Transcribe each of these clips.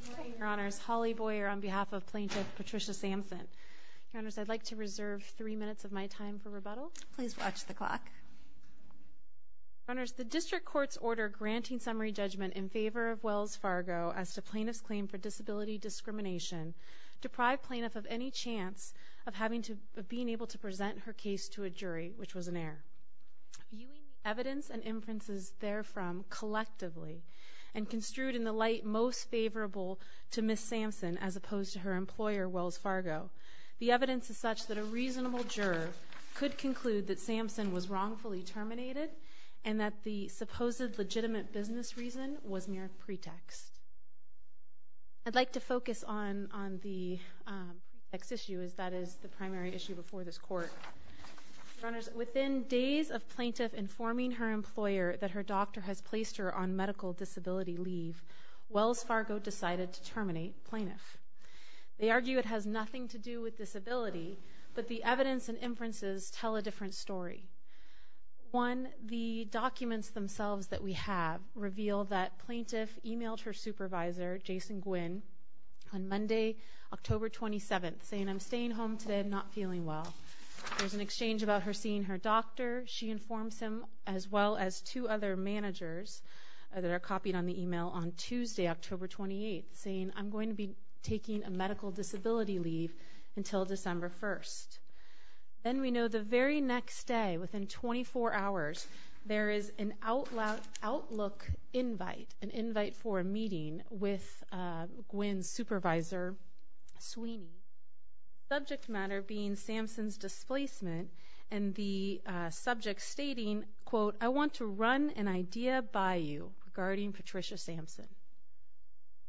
Good morning, Your Honors. Holly Boyer on behalf of plaintiff Patricia Samson. Your Honors, I'd like to reserve three minutes of my time for rebuttal. Please watch the clock. Your Honors, the District Court's order granting summary judgment in favor of Wells Fargo as to plaintiff's claim for disability discrimination deprived plaintiff of any chance of being able to present her case to a jury, which was an error. Viewing the evidence and inferences therefrom collectively, and construed in the light most favorable to Ms. Samson as opposed to her employer, Wells Fargo, the evidence is such that a reasonable juror could conclude that Samson was wrongfully terminated and that the supposed legitimate business reason was mere pretext. I'd like to focus on the pretext issue, as that is the primary issue before this Court. Your Honors, within days of plaintiff informing her employer that her doctor has placed her on medical disability leave, Wells Fargo decided to terminate plaintiff. They argue it has nothing to do with disability, but the evidence and inferences tell a different story. One, the documents themselves that we have reveal that plaintiff emailed her supervisor, Jason Gwynn, on Monday, October 27th, saying, I'm staying home today, I'm not feeling well. There's an exchange about her seeing her doctor. She informs him, as well as two other managers that are copied on the email on Tuesday, October 28th, saying, I'm going to be taking a medical disability leave until December 1st. Then we know the very next day, within 24 hours, there is an Outlook invite, an invite for a meeting with Gwynn's supervisor, Sweeney, subject matter being Samson's displacement, and the subject stating, quote, I want to run an idea by you regarding Patricia Samson.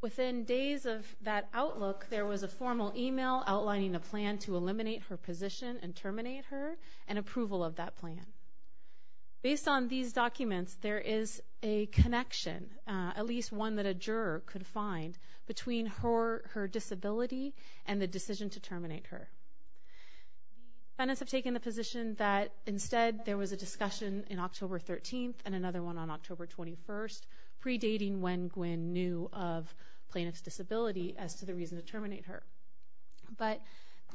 Within days of that Outlook, there was a formal email outlining a plan to eliminate her position and terminate her, and approval of that plan. Based on these documents, there is a connection, at least one that a juror could find, between her disability and the decision to terminate her. Defendants have taken the position that, instead, there was a discussion on October 13th and another one on October 21st, predating when Gwynn knew of plaintiff's disability as to the reason to terminate her. But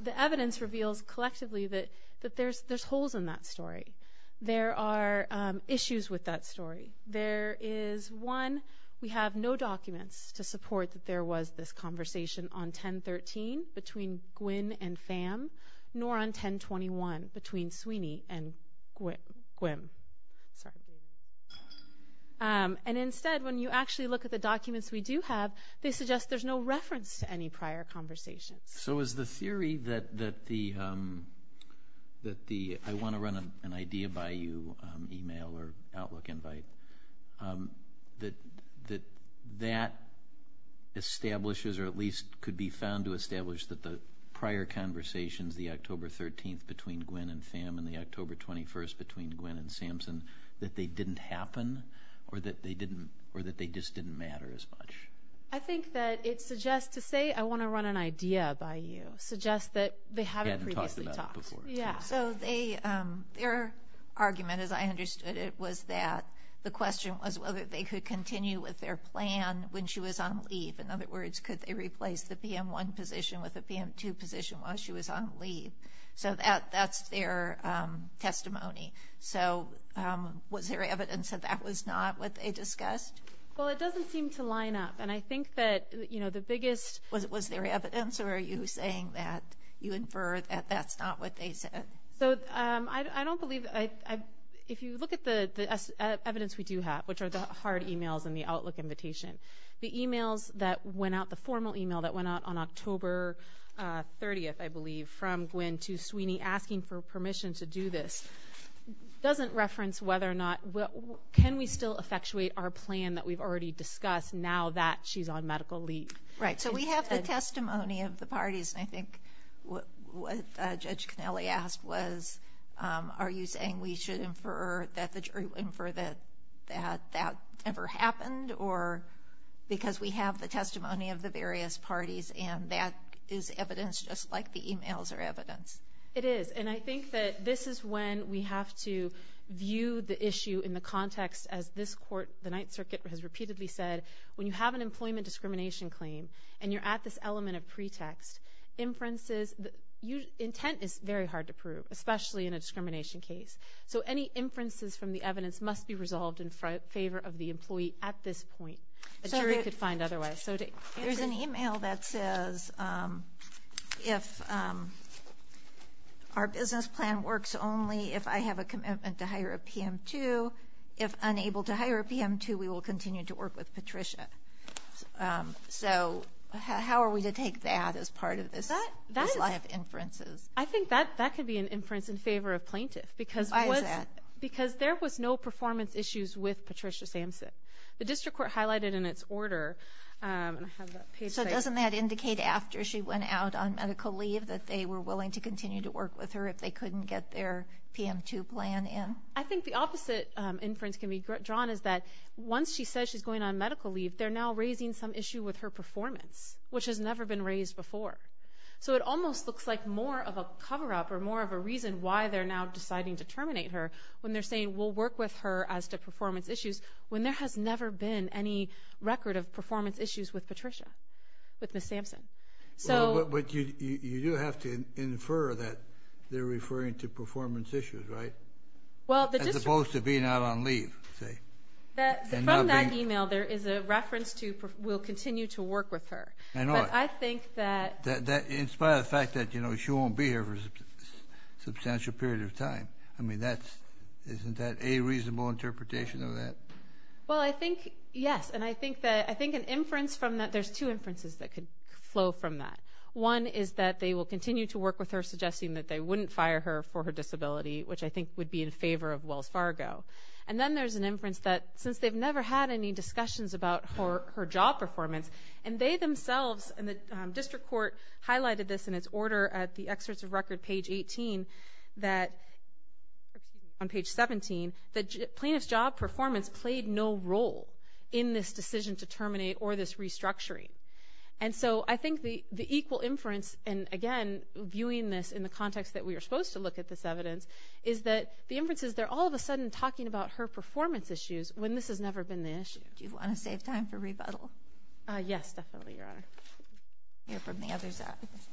the evidence reveals, collectively, that there's holes in that story. There are issues with that story. There is, one, we have no documents to support that there was this conversation on 10-13 between Gwynn and Sam, nor on 10-21 between Sweeney and Gwynn. And instead, when you actually look at the documents we do have, they suggest there's no reference to any prior conversations. So is the theory that the I-want-to-run-an-idea-by-you email or Outlook invite, that that establishes, or at least could be found to establish, that the prior conversations, the October 13th between Gwynn and Sam and the October 21st between Gwynn and Samson, that they didn't happen or that they just didn't matter as much? I think that it suggests, to say I-want-to-run-an-idea-by-you, suggests that they haven't previously talked. So their argument, as I understood it, was that the question was whether they could continue with their plan when she was on leave. In other words, could they replace the PM1 position with a PM2 position while she was on leave? So that's their testimony. So was there evidence that that was not what they discussed? Well, it doesn't seem to line up, and I think that the biggest— Was there evidence, or are you saying that you infer that that's not what they said? So I don't believe—if you look at the evidence we do have, which are the hard emails and the Outlook invitation, the emails that went out, the formal email that went out on October 30th, I believe, from Gwen to Sweeney asking for permission to do this, doesn't reference whether or not— Can we still effectuate our plan that we've already discussed now that she's on medical leave? Right. So we have the testimony of the parties, and I think what Judge Connelly asked was, are you saying we should infer that that never happened because we have the testimony of the various parties, and that is evidence just like the emails are evidence? It is, and I think that this is when we have to view the issue in the context, as this court, the Ninth Circuit, has repeatedly said, when you have an employment discrimination claim and you're at this element of pretext, inferences— intent is very hard to prove, especially in a discrimination case. So any inferences from the evidence must be resolved in favor of the employee at this point. A jury could find otherwise. There's an email that says, if our business plan works only if I have a commitment to hire a PM2, if unable to hire a PM2, we will continue to work with Patricia. So how are we to take that as part of this line of inferences? I think that could be an inference in favor of plaintiff. Why is that? Because there was no performance issues with Patricia Samson. The district court highlighted in its order— So doesn't that indicate after she went out on medical leave that they were willing to continue to work with her if they couldn't get their PM2 plan in? I think the opposite inference can be drawn is that once she says she's going on medical leave, they're now raising some issue with her performance, which has never been raised before. So it almost looks like more of a cover-up or more of a reason why they're now deciding to terminate her when they're saying we'll work with her as to performance issues when there has never been any record of performance issues with Patricia, with Ms. Samson. But you do have to infer that they're referring to performance issues, right? As opposed to being out on leave, say. From that email, there is a reference to we'll continue to work with her. But I think that— In spite of the fact that she won't be here for a substantial period of time. I mean, isn't that a reasonable interpretation of that? Well, I think, yes. And I think an inference from that— There's two inferences that could flow from that. One is that they will continue to work with her, suggesting that they wouldn't fire her for her disability, which I think would be in favor of Wells Fargo. And then there's an inference that since they've never had any discussions about her job performance, and they themselves and the district court highlighted this in its order at the excerpts of record, page 18, that—excuse me, on page 17—that plaintiff's job performance played no role in this decision to terminate or this restructuring. And so I think the equal inference, and again, viewing this in the context that we are supposed to look at this evidence, is that the inference is they're all of a sudden talking about her performance issues when this has never been the issue. Do you want to save time for rebuttal? Yes, definitely, Your Honor. We'll hear from the others after this.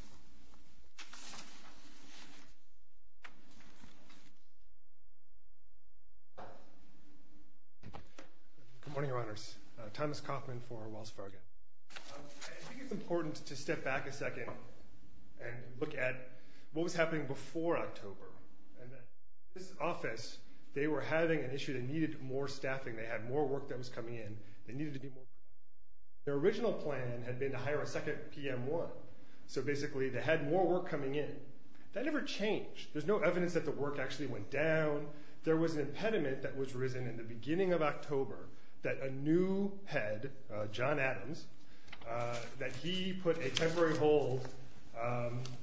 Good morning, Your Honors. Thomas Kaufman for Wells Fargo. I think it's important to step back a second and look at what was happening before October. In this office, they were having an issue. They needed more staffing. They had more work that was coming in. They needed to be more— their original plan had been to hire a second PM1, so basically they had more work coming in. That never changed. There's no evidence that the work actually went down. There was an impediment that was risen in the beginning of October that a new head, John Adams, that he put a temporary hold,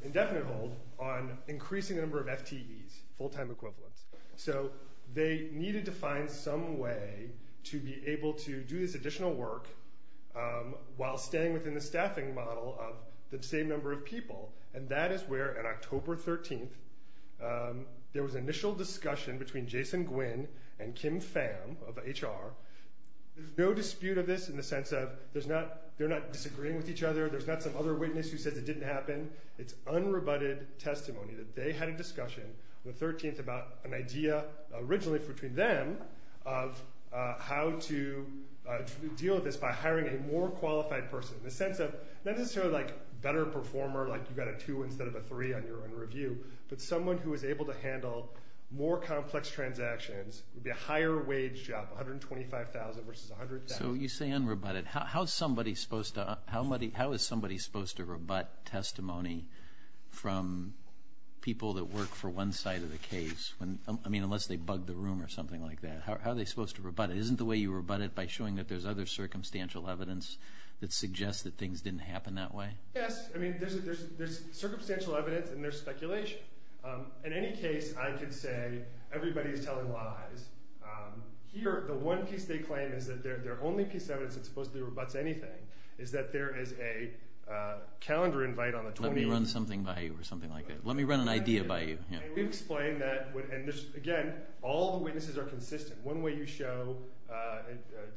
indefinite hold, on increasing the number of FTEs, full-time equivalents. So they needed to find some way to be able to do this additional work while staying within the staffing model of the same number of people. And that is where, on October 13th, there was initial discussion between Jason Gwin and Kim Pham of HR. There's no dispute of this in the sense of they're not disagreeing with each other. There's not some other witness who says it didn't happen. It's unrebutted testimony that they had a discussion on the 13th about an idea originally between them of how to deal with this by hiring a more qualified person, in the sense of not necessarily like a better performer, like you got a 2 instead of a 3 on your own review, but someone who was able to handle more complex transactions, would be a higher wage job, $125,000 versus $100,000. So you say unrebutted. How is somebody supposed to rebut testimony from people that work for one side of the case? I mean, unless they bug the room or something like that. How are they supposed to rebut it? Isn't the way you rebut it by showing that there's other circumstantial evidence that suggests that things didn't happen that way? Yes. I mean, there's circumstantial evidence and there's speculation. In any case, I could say everybody's telling lies. Here, the one piece they claim is that their only piece of evidence that's supposed to rebut anything is that there is a calendar invite on the 20th. Let me run something by you or something like that. Let me run an idea by you. We've explained that, and again, all the witnesses are consistent. One way you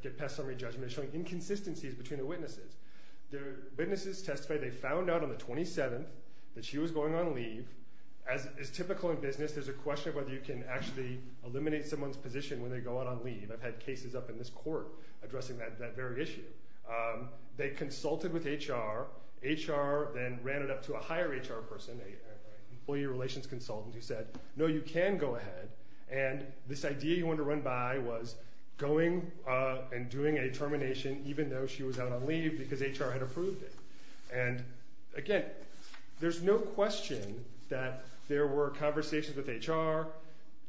get past summary judgment is showing inconsistencies between the witnesses. The witnesses testified they found out on the 27th that she was going on leave. As is typical in business, there's a question of whether you can actually eliminate someone's position when they go out on leave. I've had cases up in this court addressing that very issue. They consulted with HR. HR then ran it up to a higher HR person, an employee relations consultant, who said, no, you can go ahead. This idea you want to run by was going and doing a termination even though she was out on leave because HR had approved it. Again, there's no question that there were conversations with HR,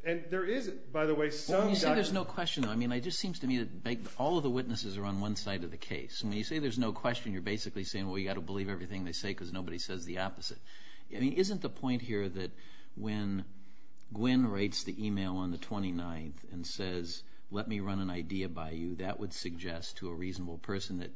and there isn't, by the way. When you say there's no question, I mean, it just seems to me that all of the witnesses are on one side of the case. When you say there's no question, you're basically saying, well, you've got to believe everything they say because nobody says the opposite. I mean, isn't the point here that when Gwen writes the email on the 29th and says, let me run an idea by you, that would suggest to a reasonable person that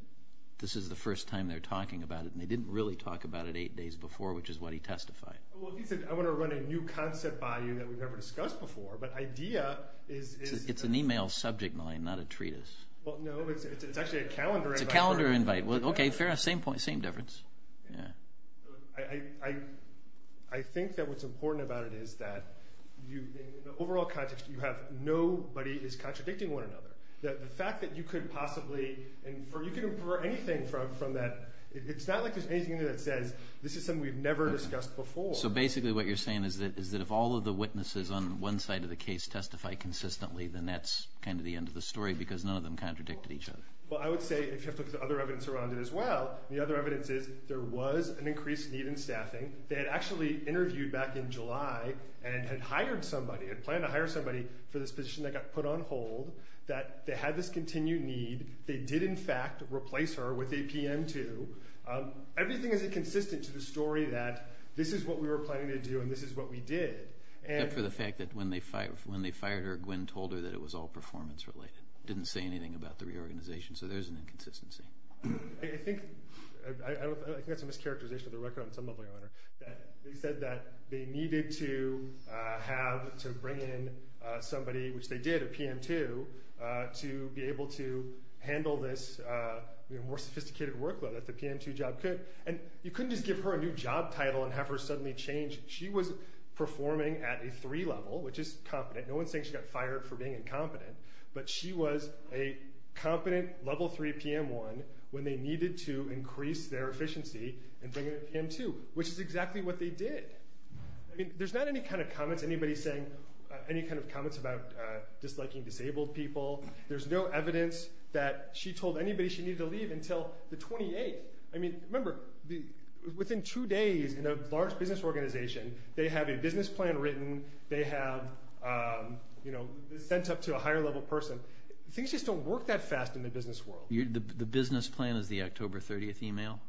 this is the first time they're talking about it, and they didn't really talk about it eight days before, which is what he testified. He said, I want to run a new concept by you that we've never discussed before, but idea is... It's an email subject line, not a treatise. Well, no, it's actually a calendar invite. It's a calendar invite. Well, okay, fair enough. Same point, same difference. I think that what's important about it is that in the overall context, nobody is contradicting one another. The fact that you could possibly infer, you could infer anything from that. It's not like there's anything in there that says, this is something we've never discussed before. So basically what you're saying is that if all of the witnesses on one side of the case testify consistently, then that's kind of the end of the story because none of them contradicted each other. Well, I would say, if you have to look at the other evidence around it as well, the other evidence is there was an increased need in staffing. They had actually interviewed back in July and had hired somebody, had planned to hire somebody for this position that got put on hold, that they had this continued need. They did, in fact, replace her with a PM2. Everything isn't consistent to the story that this is what we were planning to do and this is what we did. Except for the fact that when they fired her, Gwen told her that it was all performance related, didn't say anything about the reorganization. So there's an inconsistency. I think that's a mischaracterization of the record on some level, Your Honor. They said that they needed to have, to bring in somebody, which they did, a PM2, to be able to handle this more sophisticated workload that the PM2 job could. And you couldn't just give her a new job title and have her suddenly change. She was performing at a three level, which is competent. No one's saying she got fired for being incompetent, but she was a competent level three PM1 when they needed to increase their efficiency and bring in a PM2, which is exactly what they did. I mean, there's not any kind of comments, anybody saying, any kind of comments about disliking disabled people. There's no evidence that she told anybody she needed to leave until the 28th. I mean, remember, within two days in a large business organization, they have a business plan written, they have, you know, sent up to a higher level person. Things just don't work that fast in the business world. The business plan is the October 30th email?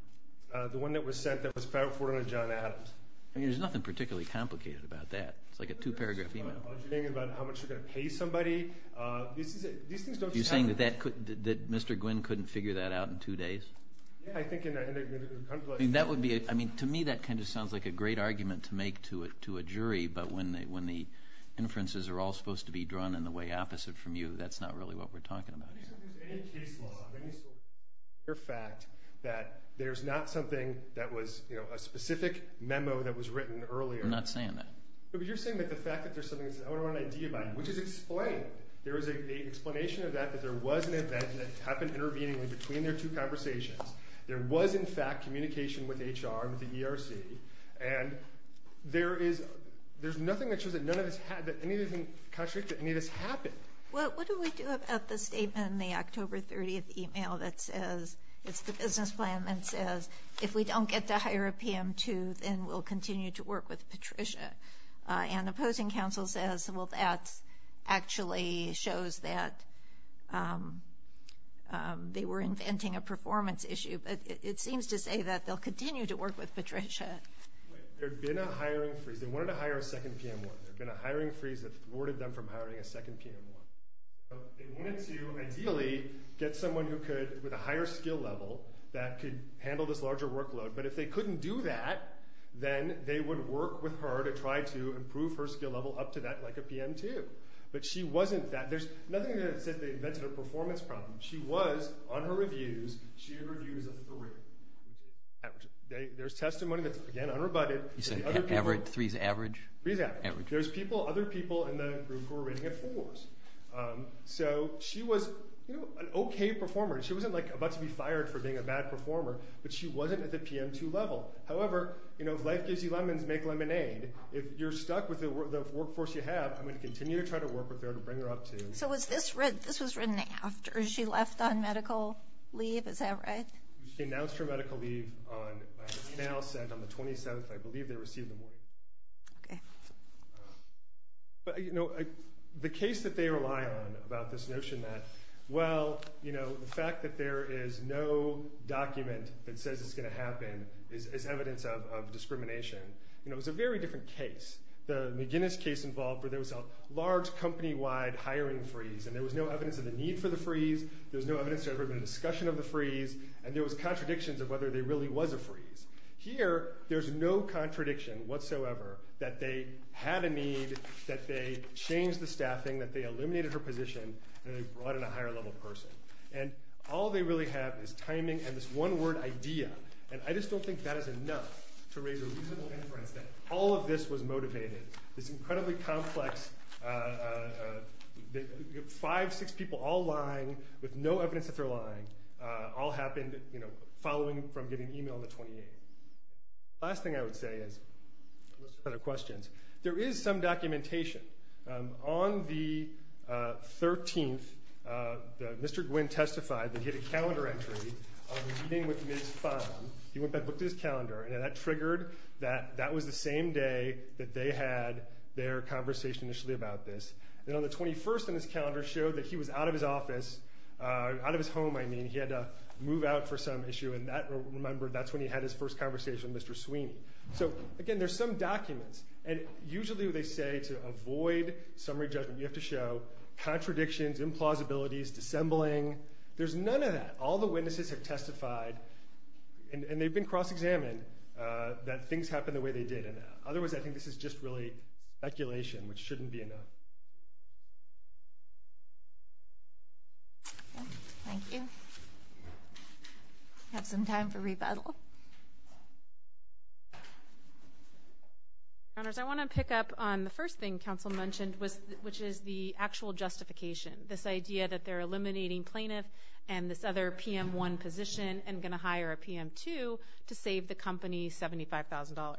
The one that was sent that was filed for John Adams. I mean, there's nothing particularly complicated about that. It's like a two-paragraph email. Are you thinking about how much you're going to pay somebody? These things don't just happen. You're saying that Mr. Gwynne couldn't figure that out in two days? Yeah, I think in a complex way. I mean, to me that kind of sounds like a great argument to make to a jury, but when the inferences are all supposed to be drawn in the way opposite from you, that's not really what we're talking about here. I don't think there's any case law, any sort of fact, that there's not something that was, you know, a specific memo that was written earlier. We're not saying that. But you're saying that the fact that there's something that says, I want to know an idea about it, which is explained. There is an explanation of that, that there was an event that happened intervening between their two conversations. There was, in fact, communication with HR and with the ERC, and there's nothing that shows that any of this happened. Well, what do we do about the statement in the October 30th email that says, it's the business plan that says, if we don't get to hire a PM2 then we'll continue to work with Patricia? And opposing counsel says, well, that actually shows that they were inventing a performance issue. But it seems to say that they'll continue to work with Patricia. There had been a hiring freeze. They wanted to hire a second PM1. There had been a hiring freeze that thwarted them from hiring a second PM1. They wanted to, ideally, get someone who could, with a higher skill level, that could handle this larger workload. But if they couldn't do that, then they would work with her to try to improve her skill level up to that, like a PM2. But she wasn't that. There's nothing that says they invented a performance problem. She was, on her reviews, she had reviews of three. There's testimony that's, again, unrebutted. You said three is average? Three is average. There's other people in the group who were rating it fours. So she was an okay performer. She wasn't about to be fired for being a bad performer, but she wasn't at the PM2 level. However, if life gives you lemons, make lemonade. If you're stuck with the workforce you have, I'm going to continue to try to work with her to bring her up to. So this was written after? She left on medical leave? Is that right? She announced her medical leave on the 27th, I believe, they received the warning. Okay. The case that they rely on about this notion that, well, the fact that there is no document that says it's going to happen is evidence of discrimination. It was a very different case. The McGinnis case involved where there was a large company-wide hiring freeze and there was no evidence of the need for the freeze, there was no evidence there had ever been a discussion of the freeze, and there was contradictions of whether there really was a freeze. Here, there's no contradiction whatsoever that they had a need, that they changed the staffing, that they eliminated her position, and they brought in a higher-level person. And all they really have is timing and this one-word idea, and I just don't think that is enough to raise a reasonable inference that all of this was motivated. This incredibly complex 5, 6 people all lying with no evidence that they're lying all happened following from getting an email on the 28th. The last thing I would say is, unless there are other questions, there is some documentation. On the 13th, Mr. Gwinn testified that he had a calendar entry on a meeting with Ms. Phan. He went back and looked at his calendar, and that triggered that that was the same day that they had their conversation initially about this. And on the 21st on his calendar showed that he was out of his office, out of his home, I mean. He had to move out for some issue, and that, remember, that's when he had his first conversation with Mr. Sweeney. So, again, there's some documents. And usually what they say to avoid summary judgment, you have to show contradictions, implausibilities, dissembling. There's none of that. All the witnesses have testified, and they've been cross-examined, that things happened the way they did. In other words, I think this is just really speculation, which shouldn't be enough. Thank you. We have some time for rebuttal. I want to pick up on the first thing Council mentioned, which is the actual justification. This idea that they're eliminating plaintiff and this other PM1 position and going to hire a PM2 to save the company $75,000.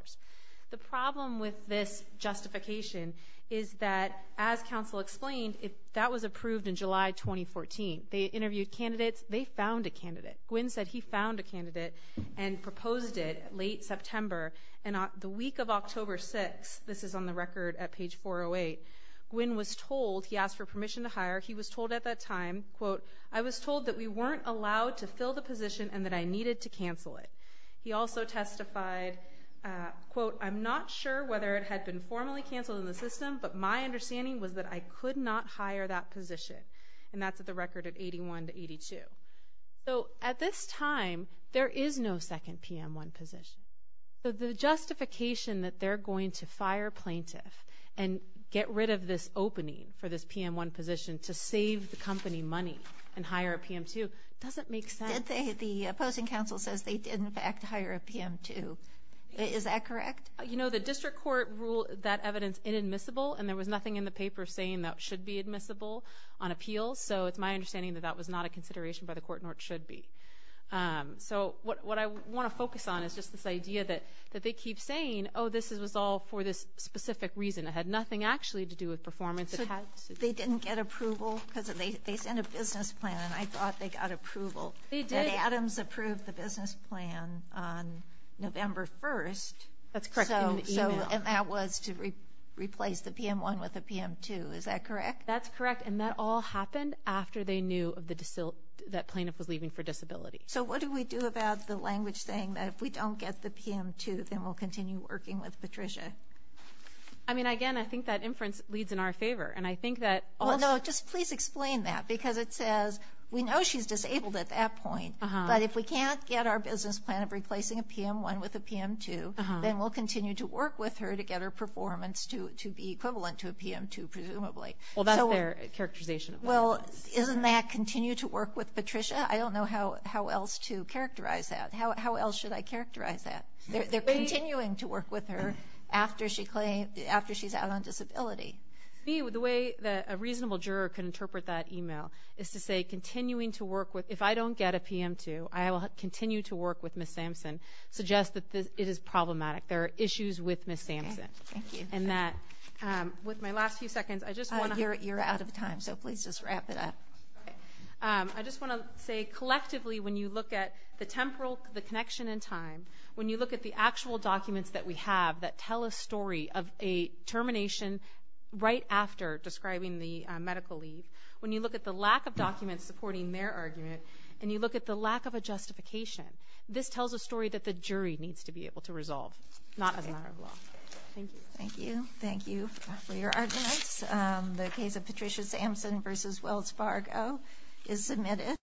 The problem with this justification is that, as Council explained, that was approved in July 2014. They interviewed candidates. They found a candidate. Gwen said he found a candidate and proposed it late September. And the week of October 6th, this is on the record at page 408, Gwen was told he asked for permission to hire. He was told at that time, quote, I was told that we weren't allowed to fill the position and that I needed to cancel it. He also testified, quote, I'm not sure whether it had been formally canceled in the system, but my understanding was that I could not hire that position. And that's at the record at 81 to 82. So at this time, there is no second PM1 position. The justification that they're going to fire plaintiff and get rid of this opening for this PM1 position to save the company money and hire a PM2 doesn't make sense. The opposing counsel says they did, in fact, hire a PM2. Is that correct? You know, the district court ruled that evidence inadmissible, and there was nothing in the paper saying that should be admissible on appeals. So it's my understanding that that was not a consideration by the court, nor it should be. So what I want to focus on is just this idea that they keep saying, oh, this was all for this specific reason. It had nothing actually to do with performance. They didn't get approval because they sent a business plan, and I thought they got approval. They did. Adams approved the business plan on November 1st. That's correct. And that was to replace the PM1 with a PM2. Is that correct? That's correct. And that all happened after they knew that plaintiff was leaving for disability. So what do we do about the language saying that if we don't get the PM2, then we'll continue working with Patricia? I mean, again, I think that inference leads in our favor. Well, no, just please explain that because it says we know she's disabled at that point, but if we can't get our business plan of replacing a PM1 with a PM2, then we'll continue to work with her to get her performance to be equivalent to a PM2, presumably. Well, that's their characterization. Well, isn't that continue to work with Patricia? I don't know how else to characterize that. How else should I characterize that? They're continuing to work with her after she's out on disability. To me, the way that a reasonable juror can interpret that e-mail is to say, if I don't get a PM2, I will continue to work with Ms. Sampson, suggest that it is problematic. There are issues with Ms. Sampson. Okay, thank you. With my last few seconds, I just want to... You're out of time, so please just wrap it up. I just want to say, collectively, when you look at the temporal connection in time, when you look at the actual documents that we have that tell a story of a termination right after describing the medical leave, when you look at the lack of documents supporting their argument, and you look at the lack of a justification, this tells a story that the jury needs to be able to resolve, not as a matter of law. Thank you. Thank you. Thank you for your arguments. The case of Patricia Sampson v. Wells Fargo is submitted.